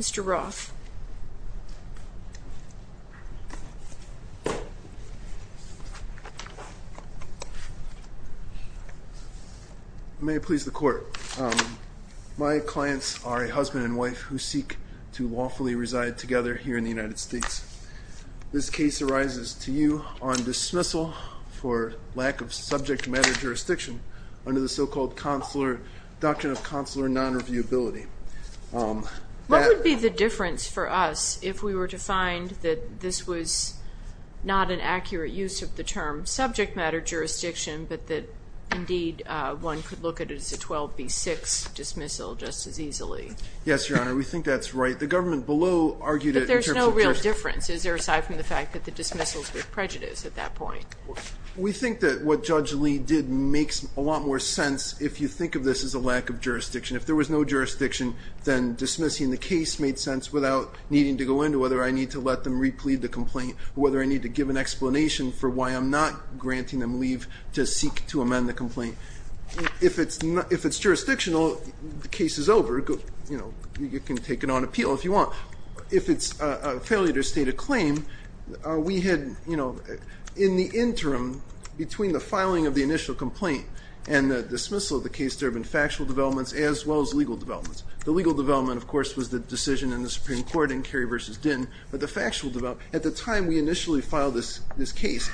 Mr. Roth May it please the court. My clients are a husband and wife who seek to lawfully reside together here in the United States. This case arises to you on dismissal for lack of subject matter jurisdiction under the so-called consular doctrine of consular non-reviewability. What would be the difference for us if we were to find that this was not an accurate use of the term subject matter jurisdiction, but that indeed one could look at it as a 12B6 dismissal just as easily? Yes, Your Honor, we think that's right. The government below argued it in terms of Is there a difference? Is there aside from the fact that the dismissal is with prejudice at that point? We think that what Judge Lee did makes a lot more sense if you think of this as a lack of jurisdiction. If there was no jurisdiction, then dismissing the case made sense without needing to go into whether I need to let them replead the complaint, whether I need to give an explanation for why I'm not granting them leave to seek to amend the complaint. If it's jurisdictional, the case is over. You can take it on appeal if you want. If it's a failure to state a claim, in the interim between the filing of the initial complaint and the dismissal of the case, there have been factual developments as well as legal developments. The legal development, of course, was the decision in the Supreme Court in Kerry v. Dinh. At the time we initially filed this case,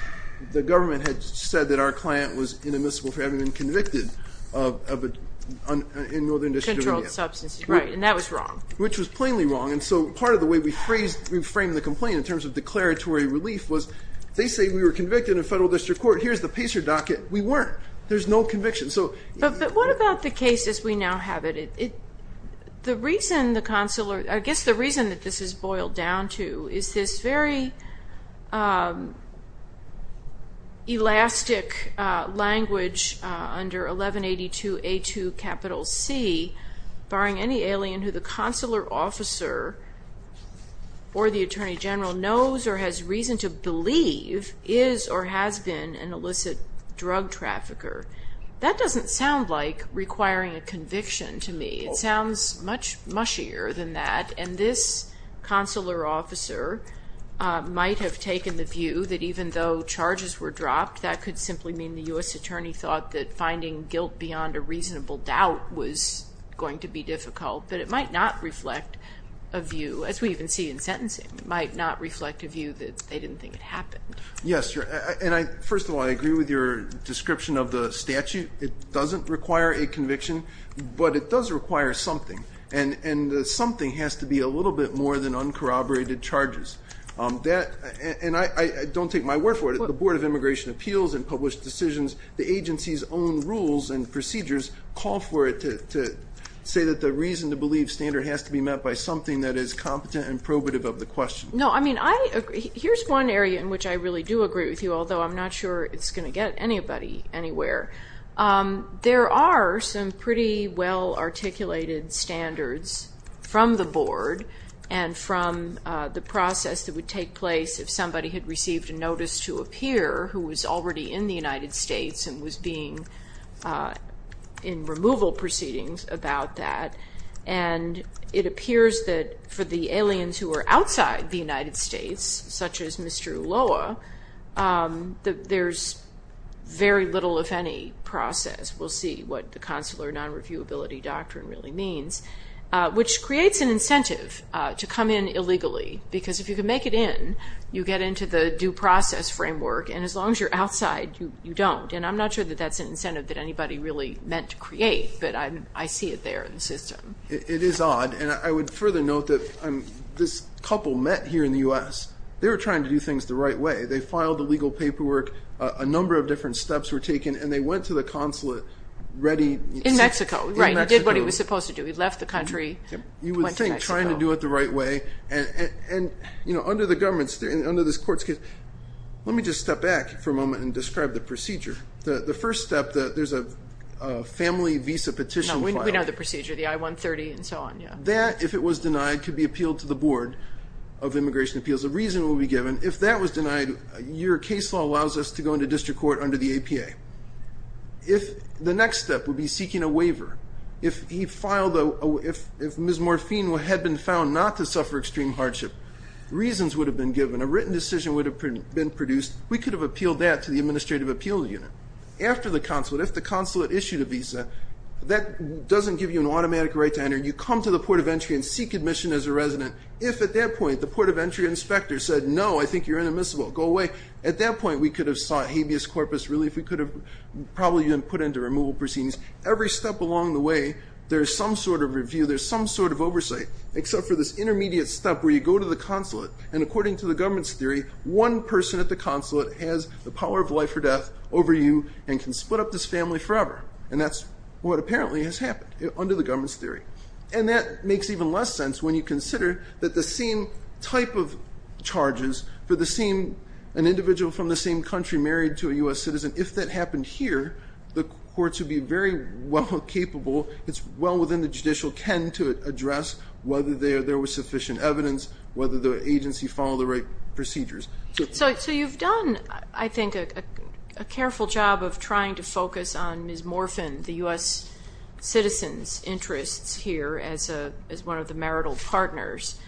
the government had said that our client was inadmissible for having been convicted in Northern District of Indiana. Controlled substance abuse. Right, and that was wrong. Which was plainly wrong. And so part of the way we framed the complaint in terms of declaratory relief was they say we were convicted in federal district court. Here's the PACER docket. We weren't. There's no conviction. But what about the case as we now have it? I guess the reason that this is boiled down to is this very elastic language under 1182A2C, barring any alien who the consular officer or the attorney general knows or has reason to believe is or has been an illicit drug trafficker. That doesn't sound like requiring a conviction to me. It sounds much mushier than that. And this consular officer might have taken the view that even though charges were dropped, that could simply mean the U.S. attorney thought that finding guilt beyond a reasonable doubt was going to be difficult. But it might not reflect a view, as we even see in sentencing. It might not reflect a view that they didn't think it happened. Yes, and first of all, I agree with your description of the statute. It doesn't require a conviction, but it does require something. And the something has to be a little bit more than uncorroborated charges. And I don't take my word for it. The Board of Immigration Appeals and Published Decisions, the agency's own rules and procedures, call for it to say that the reason to believe standard has to be met by something that is competent and probative of the question. No, I mean, here's one area in which I really do agree with you, although I'm not sure it's going to get anybody anywhere. There are some pretty well-articulated standards from the board and from the process that would take place if somebody had received a notice to appear who was already in the United States and was being in removal proceedings about that. And it appears that for the aliens who are outside the United States, such as Mr. Ulloa, that there's very little, if any, process. We'll see what the consular non-reviewability doctrine really means, which creates an incentive to come in illegally because if you can make it in, you get into the due process framework, and as long as you're outside, you don't. And I'm not sure that that's an incentive that anybody really meant to create, but I see it there in the system. It is odd, and I would further note that this couple met here in the U.S. They were trying to do things the right way. They filed the legal paperwork. A number of different steps were taken, and they went to the consulate ready. In Mexico. In Mexico. Right. He did what he was supposed to do. He left the country, went to Mexico. You would think trying to do it the right way. And under the government's, under this court's case, let me just step back for a moment and describe the procedure. The first step, there's a family visa petition file. We know the procedure, the I-130 and so on, yeah. That, if it was denied, could be appealed to the Board of Immigration Appeals. A reason would be given. If that was denied, your case law allows us to go into district court under the APA. The next step would be seeking a waiver. If Ms. Morphine had been found not to suffer extreme hardship, reasons would have been given. A written decision would have been produced. We could have appealed that to the administrative appeal unit. After the consulate, if the consulate issued a visa, that doesn't give you an automatic right to enter. You come to the port of entry and seek admission as a resident. If, at that point, the port of entry inspector said, no, I think you're inadmissible, go away. At that point, we could have sought habeas corpus relief. We could have probably been put into removal proceedings. Every step along the way, there's some sort of review. There's some sort of oversight, except for this intermediate step where you go to the consulate. And according to the government's theory, one person at the consulate has the power of life or death over you and can split up this family forever. And that's what apparently has happened under the government's theory. And that makes even less sense when you consider that the same type of charges for the same, an individual from the same country married to a U.S. citizen, if that happened here, the courts would be very well capable. It's well within the judicial ken to address whether there was sufficient evidence, whether the agency followed the right procedures. So you've done, I think, a careful job of trying to focus on mismorphin, the U.S. citizen's interests here as one of the marital partners,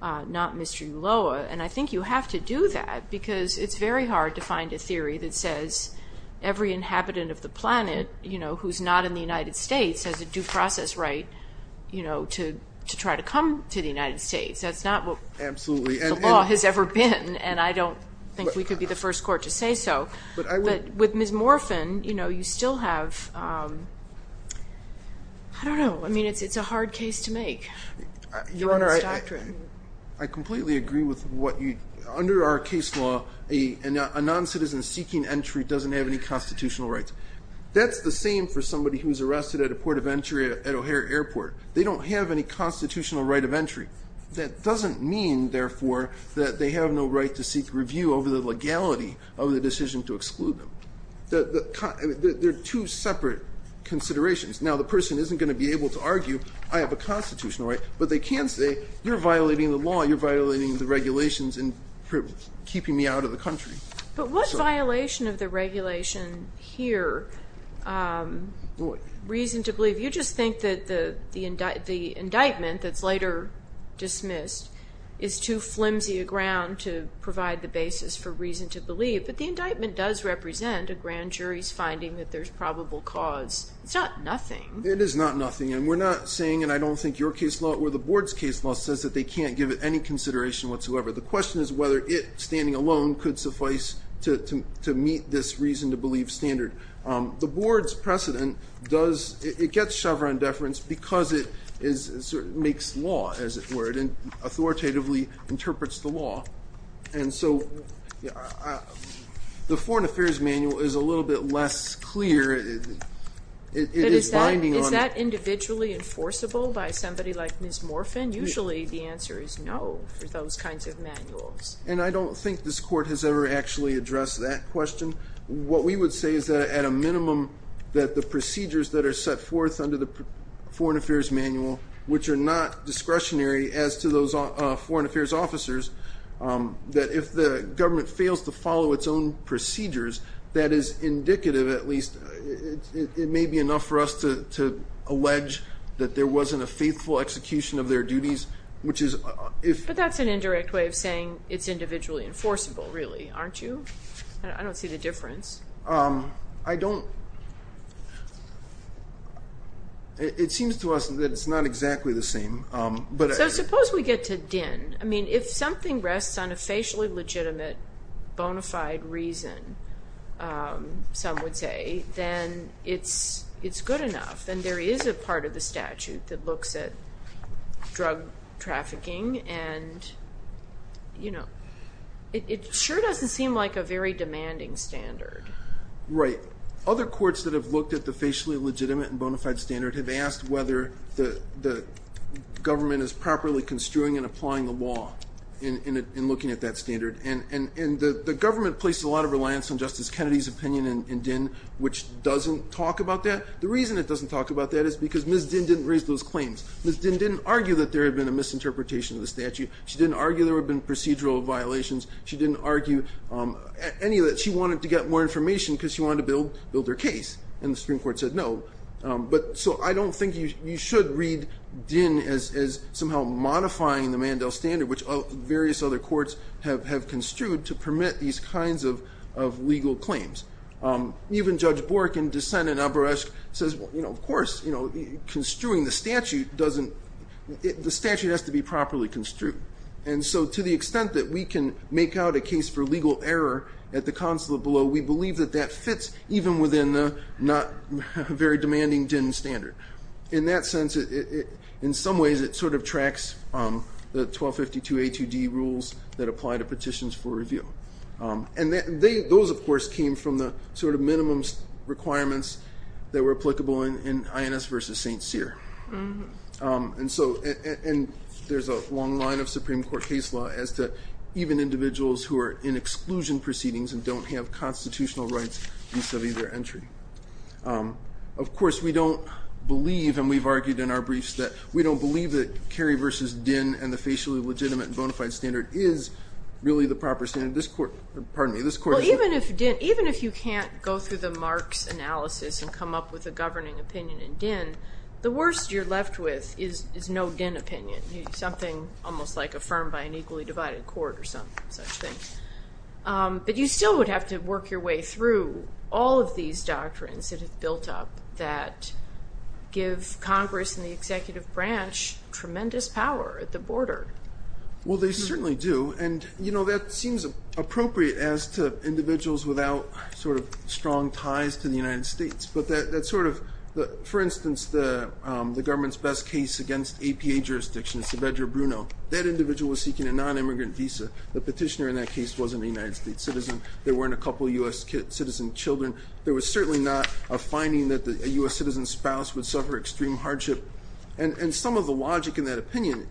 not Mr. Ulloa. And I think you have to do that because it's very hard to find a theory that says every inhabitant of the planet, you know, who's not in the United States has a due process right, you know, to try to come to the United States. That's not what the law has ever been. And I don't think we could be the first court to say so. But with mismorphin, you know, you still have, I don't know, I mean, it's a hard case to make. Your Honor, I completely agree with what you, under our case law, a noncitizen seeking entry doesn't have any constitutional rights. That's the same for somebody who was arrested at a port of entry at O'Hare Airport. They don't have any constitutional right of entry. That doesn't mean, therefore, that they have no right to seek review over the legality of the decision to exclude them. They're two separate considerations. Now, the person isn't going to be able to argue I have a constitutional right, but they can say you're violating the law, you're violating the regulations in keeping me out of the country. But what violation of the regulation here, reason to believe? If you just think that the indictment that's later dismissed is too flimsy a ground to provide the basis for reason to believe, but the indictment does represent a grand jury's finding that there's probable cause. It's not nothing. It is not nothing. And we're not saying, and I don't think your case law or the Board's case law says that they can't give it any consideration whatsoever. The question is whether it, standing alone, could suffice to meet this reason to believe standard. The Board's precedent does, it gets Chevron deference because it makes law, as it were, and authoritatively interprets the law. And so the Foreign Affairs Manual is a little bit less clear. It is binding on it. But is that individually enforceable by somebody like Ms. Morphin? Usually the answer is no for those kinds of manuals. And I don't think this Court has ever actually addressed that question. What we would say is that at a minimum that the procedures that are set forth under the Foreign Affairs Manual, which are not discretionary as to those Foreign Affairs officers, that if the government fails to follow its own procedures, that is indicative, at least. It may be enough for us to allege that there wasn't a faithful execution of their duties, which is if. But that's an indirect way of saying it's individually enforceable, really, aren't you? I don't see the difference. I don't. It seems to us that it's not exactly the same. So suppose we get to DIN. I mean, if something rests on a facially legitimate bona fide reason, some would say, then it's good enough. And there is a part of the statute that looks at drug trafficking. And, you know, it sure doesn't seem like a very demanding standard. Right. Other courts that have looked at the facially legitimate and bona fide standard have asked whether the government is properly construing and applying the law in looking at that standard. And the government places a lot of reliance on Justice Kennedy's opinion in DIN, which doesn't talk about that. The reason it doesn't talk about that is because Ms. DIN didn't raise those claims. Ms. DIN didn't argue that there had been a misinterpretation of the statute. She didn't argue there had been procedural violations. She didn't argue any of that. She wanted to get more information because she wanted to build her case. And the Supreme Court said no. So I don't think you should read DIN as somehow modifying the Mandel standard, which various other courts have construed to permit these kinds of legal claims. Even Judge Bork in dissent in Aberesk says, you know, of course, you know, construing the statute doesn't the statute has to be properly construed. And so to the extent that we can make out a case for legal error at the consulate below, we believe that that fits even within the not very demanding DIN standard. In that sense, in some ways it sort of tracks the 1252A2D rules that apply to petitions for review. And those, of course, came from the sort of minimum requirements that were applicable in INS v. St. Cyr. And so there's a long line of Supreme Court case law as to even individuals who are in exclusion proceedings and don't have constitutional rights vis-a-vis their entry. Of course, we don't believe, and we've argued in our briefs, that we don't believe that Kerry v. DIN and the facially legitimate bona fide standard is really the proper standard. Well, even if you can't go through the Marx analysis and come up with a governing opinion in DIN, the worst you're left with is no DIN opinion, something almost like affirmed by an equally divided court or some such thing. But you still would have to work your way through all of these doctrines that have built up that give Congress and the executive branch tremendous power at the border. Well, they certainly do. And, you know, that seems appropriate as to individuals without sort of strong ties to the United States. But that sort of, for instance, the government's best case against APA jurisdiction, it's Evedra Bruno, that individual was seeking a nonimmigrant visa. The petitioner in that case wasn't a United States citizen. There weren't a couple of U.S. citizen children. There was certainly not a finding that a U.S. citizen's spouse would suffer extreme hardship. And some of the logic in that opinion,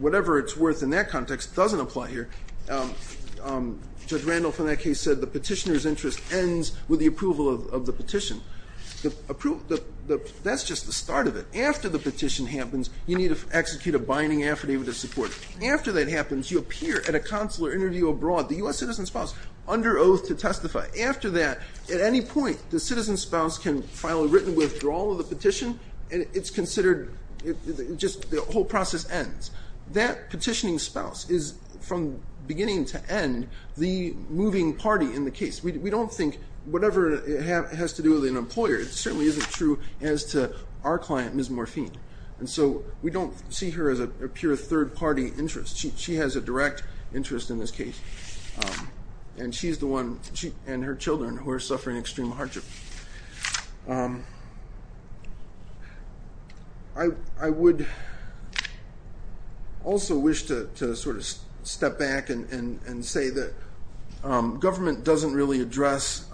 whatever it's worth in that context, doesn't apply here. Judge Randolph in that case said the petitioner's interest ends with the approval of the petition. That's just the start of it. After the petition happens, you need to execute a binding affidavit of support. After that happens, you appear at a consular interview abroad, the U.S. citizen's spouse, under oath to testify. After that, at any point, the citizen's spouse can file a written withdrawal of the petition, and it's considered just the whole process ends. That petitioning spouse is, from beginning to end, the moving party in the case. We don't think whatever it has to do with an employer, it certainly isn't true as to our client, Ms. Morphine. And so we don't see her as a pure third-party interest. She has a direct interest in this case. And she's the one, and her children, who are suffering extreme hardship. I would also wish to sort of step back and say that government doesn't really address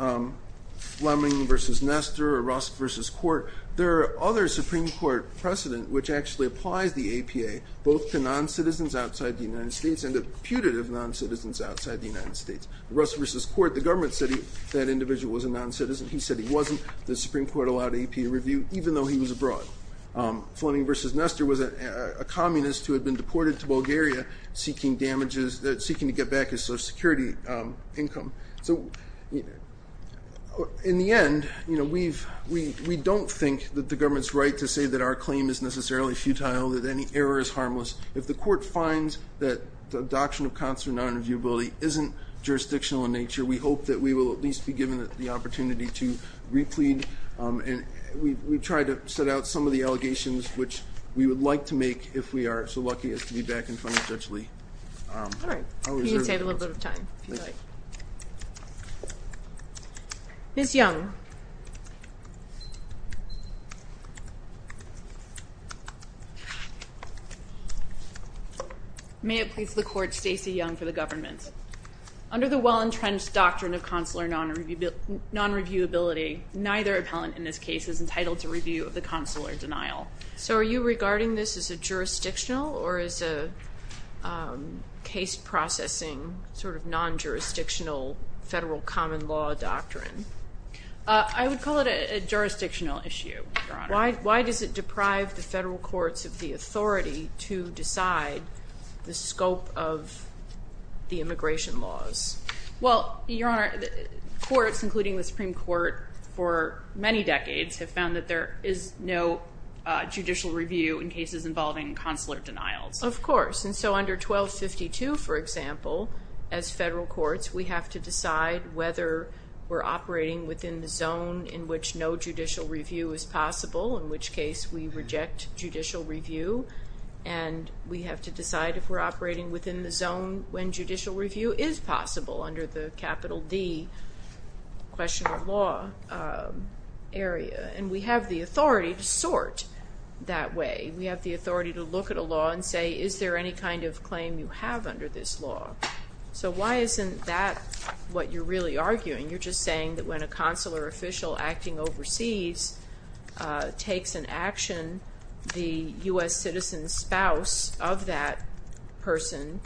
Fleming v. Nestor or Rusk v. Court. There are other Supreme Court precedent which actually applies the APA, both to non-citizens outside the United States and to putative non-citizens outside the United States. Rusk v. Court, the government said that individual was a non-citizen. He said he wasn't. The Supreme Court allowed APA review, even though he was abroad. Fleming v. Nestor was a communist who had been deported to Bulgaria, seeking damages, seeking to get back his Social Security income. In the end, we don't think that the government's right to say that our claim is necessarily futile, and we don't know that any error is harmless. If the court finds that the adoption of constituent non-reviewability isn't jurisdictional in nature, we hope that we will at least be given the opportunity to re-plead. And we've tried to set out some of the allegations, which we would like to make, if we are so lucky as to be back in front of Judge Lee. All right. You can save a little bit of time, if you like. Ms. Young. May it please the Court, Stacey Young for the government. Under the well-entrenched doctrine of consular non-reviewability, neither appellant in this case is entitled to review of the consular denial. So are you regarding this as a jurisdictional or as a case-processing, sort of non-jurisdictional federal common law doctrine? Why does it deprive the federal courts of the authority to decide the scope of the immigration laws? Well, Your Honor, courts, including the Supreme Court, for many decades have found that there is no judicial review in cases involving consular denials. Of course. And so under 1252, for example, as federal courts, we have to decide whether we're operating within the zone in which no judicial review is possible, in which case we reject judicial review. And we have to decide if we're operating within the zone when judicial review is possible, under the capital D question of law area. And we have the authority to sort that way. We have the authority to look at a law and say, is there any kind of claim you have under this law? So why isn't that what you're really arguing? You're just saying that when a consular official acting overseas takes an action, the U.S. citizen's spouse of that person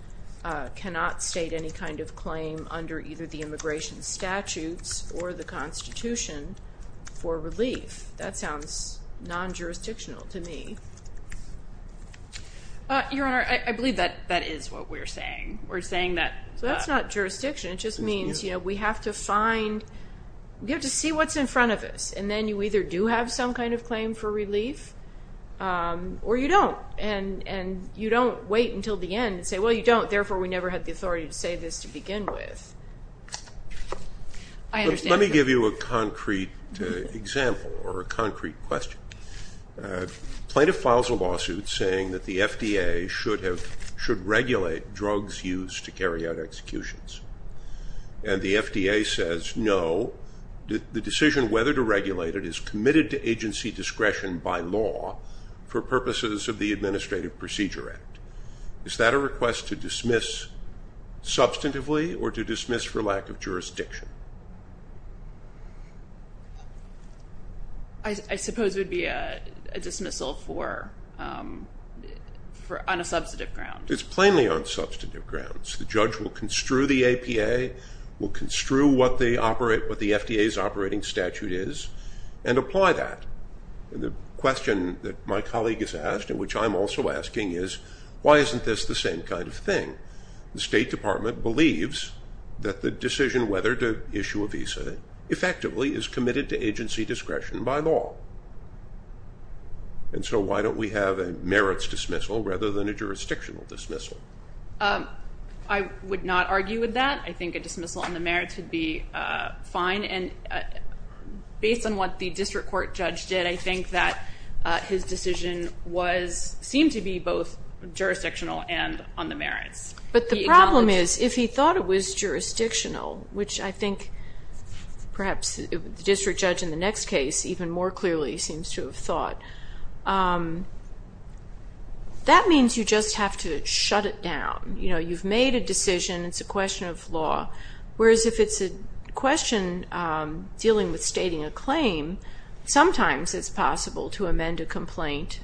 cannot state any kind of claim under either the immigration statutes or the Constitution for relief. That sounds non-jurisdictional to me. Your Honor, I believe that that is what we're saying. So that's not jurisdiction. It just means we have to see what's in front of us, and then you either do have some kind of claim for relief or you don't, and you don't wait until the end and say, well, you don't, therefore we never had the authority to say this to begin with. Let me give you a concrete example or a concrete question. A plaintiff files a lawsuit saying that the FDA should regulate drugs used to carry out executions, and the FDA says no. The decision whether to regulate it is committed to agency discretion by law for purposes of the Administrative Procedure Act. Is that a request to dismiss substantively or to dismiss for lack of jurisdiction? I suppose it would be a dismissal on a substantive ground. It's plainly on substantive grounds. The judge will construe the APA, will construe what the FDA's operating statute is, and apply that. The question that my colleague has asked and which I'm also asking is, why isn't this the same kind of thing? The State Department believes that the decision whether to issue a visa effectively is committed to agency discretion by law, and so why don't we have a merits dismissal rather than a jurisdictional dismissal? I would not argue with that. I think a dismissal on the merits would be fine, and based on what the district court judge did, I think that his decision seemed to be both jurisdictional and on the merits. But the problem is if he thought it was jurisdictional, which I think perhaps the district judge in the next case even more clearly seems to have thought, that means you just have to shut it down. You've made a decision. It's a question of law. Whereas if it's a question dealing with stating a claim, sometimes it's possible to amend a complaint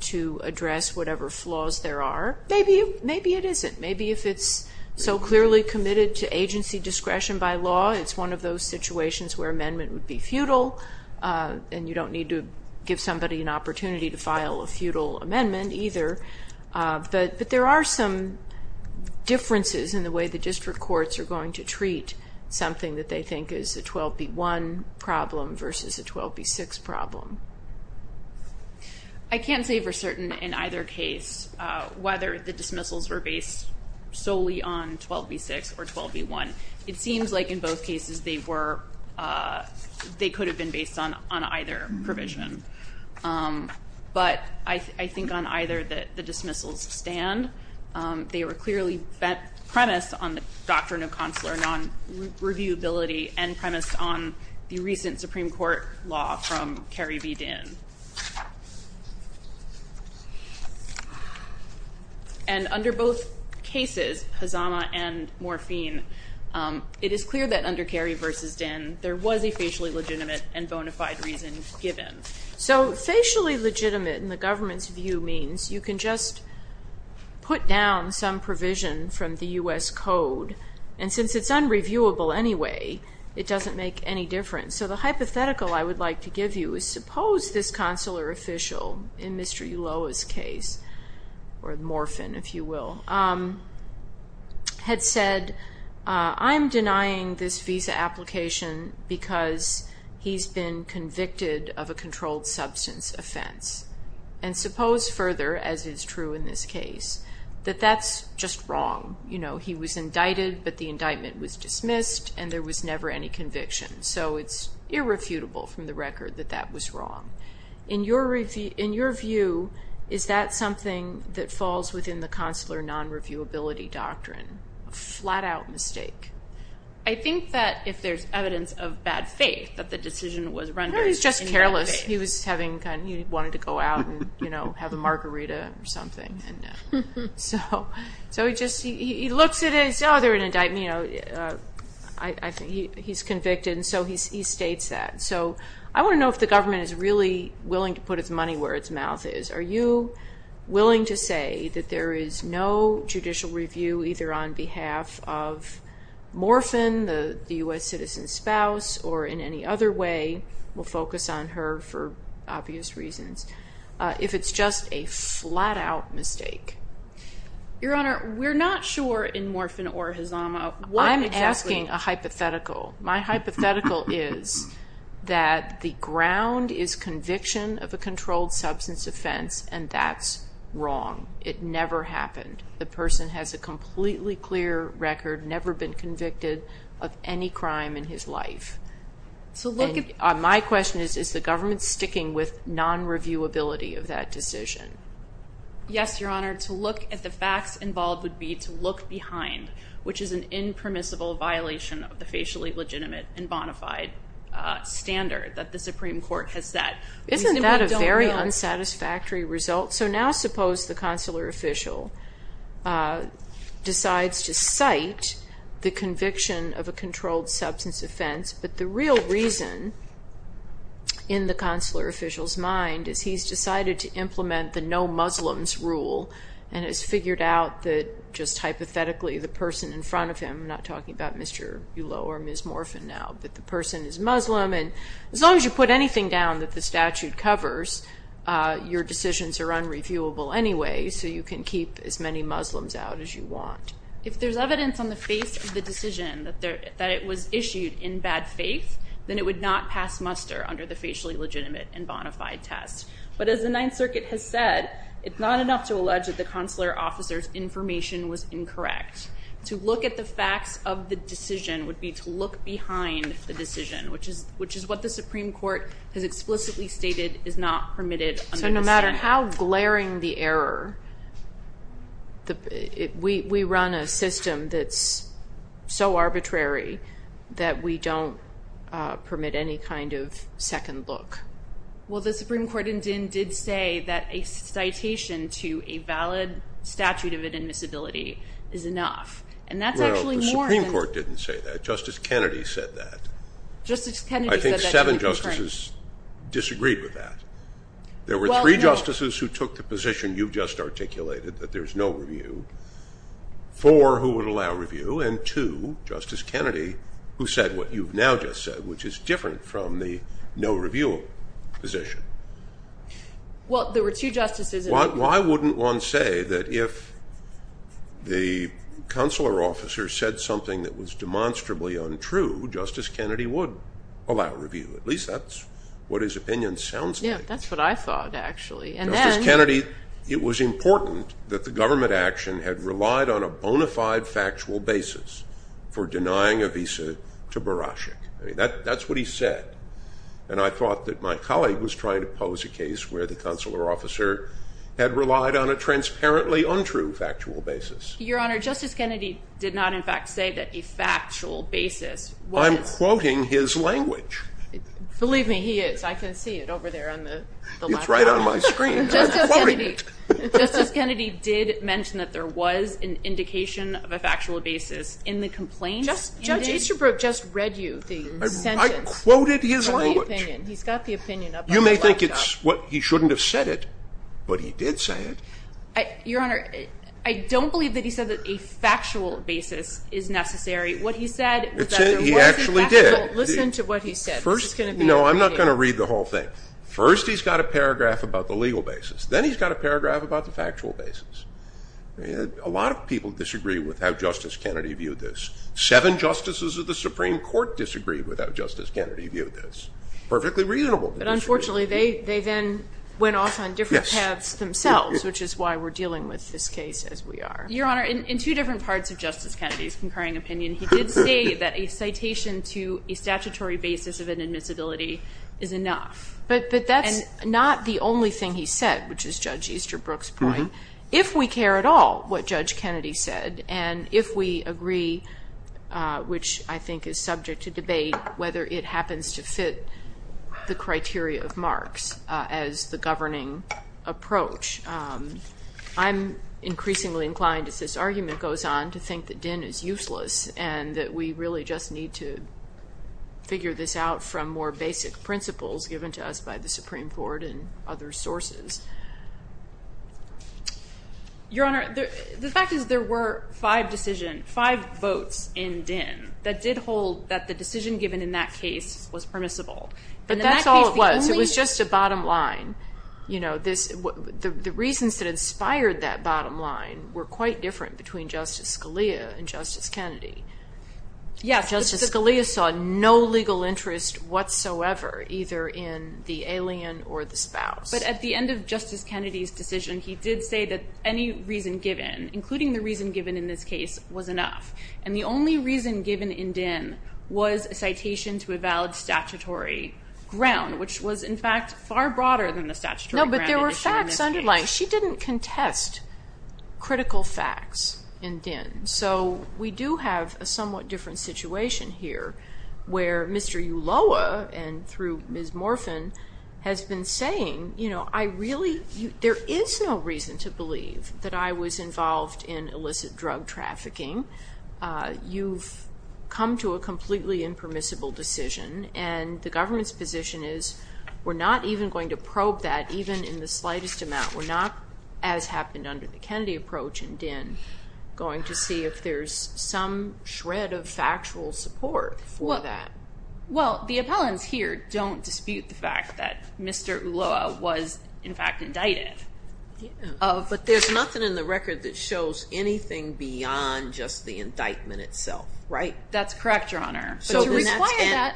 to address whatever flaws there are. Maybe it isn't. Maybe if it's so clearly committed to agency discretion by law, it's one of those situations where amendment would be futile, and you don't need to give somebody an opportunity to file a futile amendment either. But there are some differences in the way the district courts are going to treat something that they think is a 12b-1 problem versus a 12b-6 problem. I can't say for certain in either case whether the dismissals were based solely on 12b-6 or 12b-1. It seems like in both cases they could have been based on either provision. But I think on either that the dismissals stand. They were clearly premised on the doctrine of consular non-reviewability and premised on the recent Supreme Court law from Kerry v. Dinn. And under both cases, Hazama and Morphine, it is clear that under Kerry v. Dinn there was a facially legitimate and bona fide reason given. So facially legitimate in the government's view means you can just put down some provision from the U.S. Code, and since it's unreviewable anyway, it doesn't make any difference. So the hypothetical I would like to give you is suppose this consular official in Mr. Ulloa's case, or Morphine if you will, had said, I'm denying this visa application because he's been convicted of a controlled substance offense. And suppose further, as is true in this case, that that's just wrong. He was indicted but the indictment was dismissed and there was never any conviction. So it's irrefutable from the record that that was wrong. In your view, is that something that falls within the consular non-reviewability doctrine? A flat-out mistake. I think that if there's evidence of bad faith that the decision was rendered. He was just careless. He wanted to go out and have a margarita or something. So he looks at it and says, oh, they're going to indict me. He's convicted and so he states that. So I want to know if the government is really willing to put its money where its mouth is. Are you willing to say that there is no judicial review either on behalf of Morphine, the U.S. citizen's spouse, or in any other way, we'll focus on her for obvious reasons, if it's just a flat-out mistake? Your Honor, we're not sure in Morphine or Hazama what exactly. I'm asking a hypothetical. My hypothetical is that the ground is conviction of a controlled substance offense and that's wrong. It never happened. The person has a completely clear record, never been convicted of any crime in his life. My question is, is the government sticking with non-reviewability of that decision? Yes, Your Honor. To look at the facts involved would be to look behind, which is an impermissible violation of the facially legitimate and bona fide standard that the Supreme Court has set. Isn't that a very unsatisfactory result? So now suppose the consular official decides to cite the conviction of a controlled substance offense, but the real reason in the consular official's mind is he's decided to implement the no Muslims rule and has figured out that just hypothetically the person in front of him, I'm not talking about Mr. Bulo or Ms. Morphine now, that the person is Muslim, and as long as you put anything down that the statute covers, your decisions are unreviewable anyway, so you can keep as many Muslims out as you want. If there's evidence on the face of the decision that it was issued in bad faith, then it would not pass muster under the facially legitimate and bona fide test. But as the Ninth Circuit has said, it's not enough to allege that the consular officer's information was incorrect. To look at the facts of the decision would be to look behind the decision, which is what the Supreme Court has explicitly stated is not permitted under the statute. So no matter how glaring the error, we run a system that's so arbitrary that we don't permit any kind of second look. Well, the Supreme Court in Dinn did say that a citation to a valid statute of admissibility is enough, and that's actually more than... Well, the Supreme Court didn't say that. Justice Kennedy said that. Justice Kennedy said that. I think seven justices disagreed with that. There were three justices who took the position you've just articulated that there's no review, four who would allow review, and two, Justice Kennedy, who said what you've now just said, which is different from the no review position. Well, there were two justices... Why wouldn't one say that if the consular officer said something that was demonstrably untrue, Justice Kennedy would allow review? At least that's what his opinion sounds like. Yeah, that's what I thought, actually. And then... Justice Kennedy, it was important that the government action had relied on a bona fide factual basis for denying a visa to Barasik. That's what he said. And I thought that my colleague was trying to pose a case where the consular officer had relied on a transparently untrue factual basis. Your Honor, Justice Kennedy did not, in fact, say that a factual basis was... I'm quoting his language. Believe me, he is. I can see it over there on the... It's right on my screen. I'm quoting it. Justice Kennedy did mention that there was an indication of a factual basis in the complaint. Judge Easterbrook just read you the sentence. I quoted his language. He's got the opinion up on the laptop. You may think he shouldn't have said it, but he did say it. Your Honor, I don't believe that he said that a factual basis is necessary. What he said was that there was a factual... He actually did. Listen to what he said. No, I'm not going to read the whole thing. First, he's got a paragraph about the legal basis. Then he's got a paragraph about the factual basis. A lot of people disagree with how Justice Kennedy viewed this. Seven justices of the Supreme Court disagreed with how Justice Kennedy viewed this. Perfectly reasonable. But, unfortunately, they then went off on different paths themselves, which is why we're dealing with this case as we are. Your Honor, in two different parts of Justice Kennedy's concurring opinion, he did say that a citation to a statutory basis of inadmissibility is enough. But that's not the only thing he said, which is Judge Easterbrook's point. If we care at all what Judge Kennedy said and if we agree, which I think is subject to debate, whether it happens to fit the criteria of Marx as the governing approach, I'm increasingly inclined, as this argument goes on, to think that Dinn is useless and that we really just need to figure this out from more basic principles given to us by the Supreme Court and other sources. Your Honor, the fact is there were five votes in Dinn that did hold that the decision given in that case was permissible. But that's all it was. It was just a bottom line. The reasons that inspired that bottom line were quite different between Justice Scalia and Justice Kennedy. Justice Scalia saw no legal interest whatsoever either in the alien or the spouse. But at the end of Justice Kennedy's decision, he did say that any reason given, including the reason given in this case, was enough. And the only reason given in Dinn was a citation to a valid statutory ground, which was, in fact, far broader than the statutory ground. No, but there were facts underlined. She didn't contest critical facts in Dinn. So we do have a somewhat different situation here, where Mr. Ulloa, and through Ms. Morphin, has been saying, you know, there is no reason to believe that I was involved in illicit drug trafficking. You've come to a completely impermissible decision, and the government's position is we're not even going to probe that, even in the slightest amount. We're not, as happened under the Kennedy approach in Dinn, going to see if there's some shred of factual support for that. Well, the appellants here don't dispute the fact that Mr. Ulloa was, in fact, indicted. But there's nothing in the record that shows anything beyond just the indictment itself, right? That's correct, Your Honor. And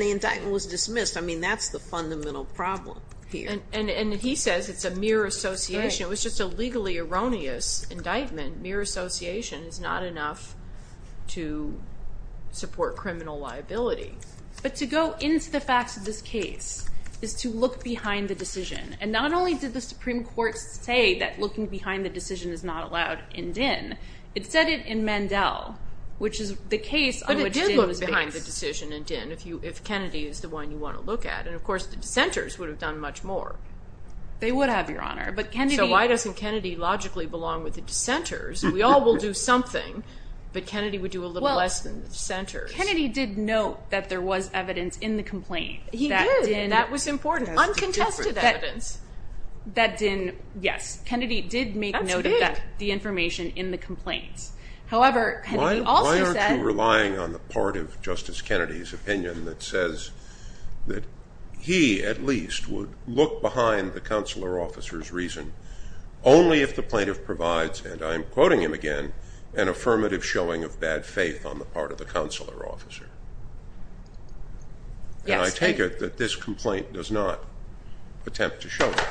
the indictment was dismissed. I mean, that's the fundamental problem here. And he says it's a mere association. It was just a legally erroneous indictment. Mere association is not enough to support criminal liability. But to go into the facts of this case is to look behind the decision. And not only did the Supreme Court say that looking behind the decision is not allowed in Dinn, it said it in Mandel, which is the case on which Dinn was based. But it did look behind the decision in Dinn, if Kennedy is the one you want to look at. And, of course, the dissenters would have done much more. They would have, Your Honor. So why doesn't Kennedy logically belong with the dissenters? We all will do something, but Kennedy would do a little less than the dissenters. Well, Kennedy did note that there was evidence in the complaint. He did. That was important. Uncontested evidence. Yes, Kennedy did make note of that, the information in the complaints. Why aren't you relying on the part of Justice Kennedy's opinion that says that he, at least, would look behind the consular officer's reason only if the plaintiff provides, and I'm quoting him again, an affirmative showing of bad faith on the part of the consular officer? Yes. And I take it that this complaint does not attempt to show that.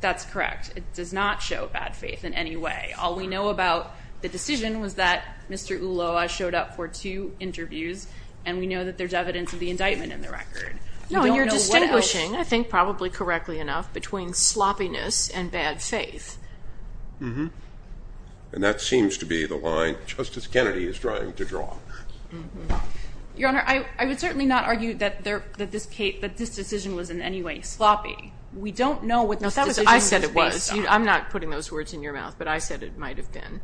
That's correct. It does not show bad faith in any way. All we know about the decision was that Mr. Ulloa showed up for two interviews, and we know that there's evidence of the indictment in the record. No, you're distinguishing, I think probably correctly enough, between sloppiness and bad faith. And that seems to be the line Justice Kennedy is trying to draw. Your Honor, I would certainly not argue that this decision was in any way sloppy. We don't know what this decision was based on. No, I said it was. I'm not putting those words in your mouth, but I said it might have been.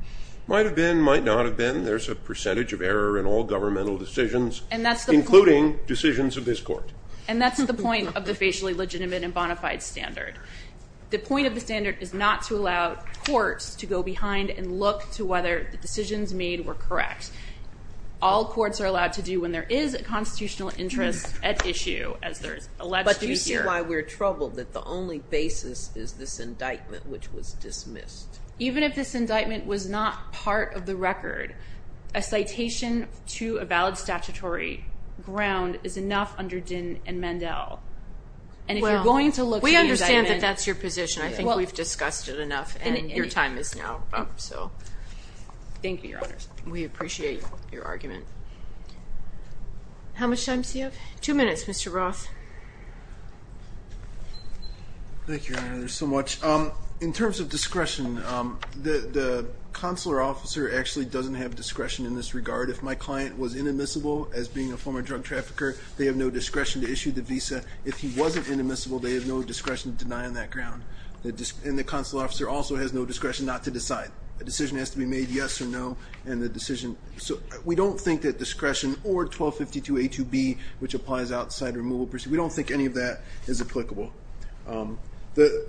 Might have been, might not have been. There's a percentage of error in all governmental decisions, including decisions of this Court. And that's the point of the Facially Legitimate and Bonafide Standard. The point of the standard is not to allow courts to go behind and look to whether the decisions made were correct. All courts are allowed to do when there is a constitutional interest at issue, as there is alleged to be here. Do you see why we're troubled that the only basis is this indictment, which was dismissed? Even if this indictment was not part of the record, a citation to a valid statutory ground is enough under Dinn and Mandel. And if you're going to look at the indictment. We understand that that's your position. I think we've discussed it enough, and your time is now up. Thank you, Your Honor. We appreciate your argument. How much time do you have? Two minutes, Mr. Roth. Thank you, Your Honor, so much. In terms of discretion, the consular officer actually doesn't have discretion in this regard. If my client was inadmissible as being a former drug trafficker, they have no discretion to issue the visa. If he wasn't inadmissible, they have no discretion to deny on that ground. And the consular officer also has no discretion not to decide. A decision has to be made yes or no. We don't think that discretion or 1252A2B, which applies outside removal procedure, we don't think any of that is applicable. The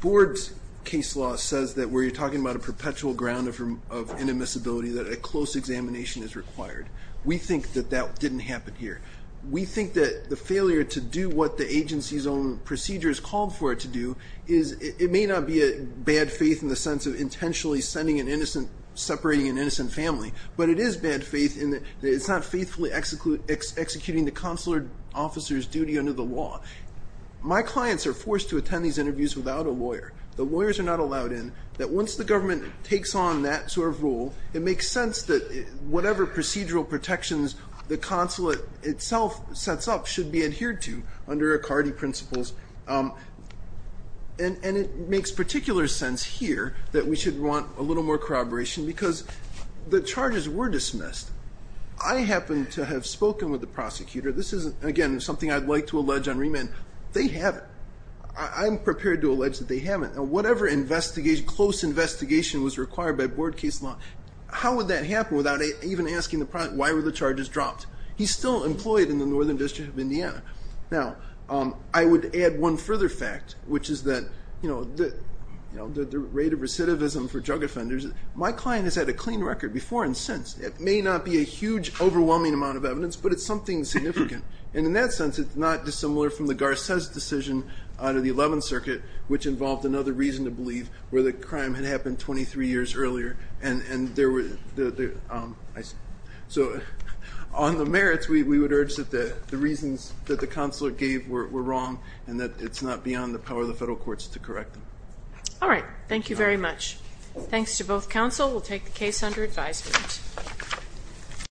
board's case law says that where you're talking about a perpetual ground of inadmissibility, that a close examination is required. We think that that didn't happen here. We think that the failure to do what the agency's own procedure has called for it to do, it may not be a bad faith in the sense of intentionally separating an innocent family, but it is bad faith in that it's not faithfully executing the consular officer's duty under the law. My clients are forced to attend these interviews without a lawyer. The lawyers are not allowed in. Once the government takes on that sort of role, it makes sense that whatever procedural protections the consulate itself sets up should be adhered to and it makes particular sense here that we should want a little more corroboration because the charges were dismissed. I happen to have spoken with the prosecutor. This is, again, something I'd like to allege on remand. They haven't. I'm prepared to allege that they haven't. Whatever close investigation was required by board case law, how would that happen without even asking the prosecutor why were the charges dropped? He's still employed in the Northern District of Indiana. Now, I would add one further fact, which is that the rate of recidivism for drug offenders, my client has had a clean record before and since. It may not be a huge, overwhelming amount of evidence, but it's something significant. And in that sense, it's not dissimilar from the Garces decision out of the 11th Circuit, which involved another reason to believe where the crime had happened 23 years earlier. So on the merits, we would urge that the reasons that the counselor gave were wrong and that it's not beyond the power of the federal courts to correct them. All right. Thank you very much. Thanks to both counsel. We'll take the case under advisement.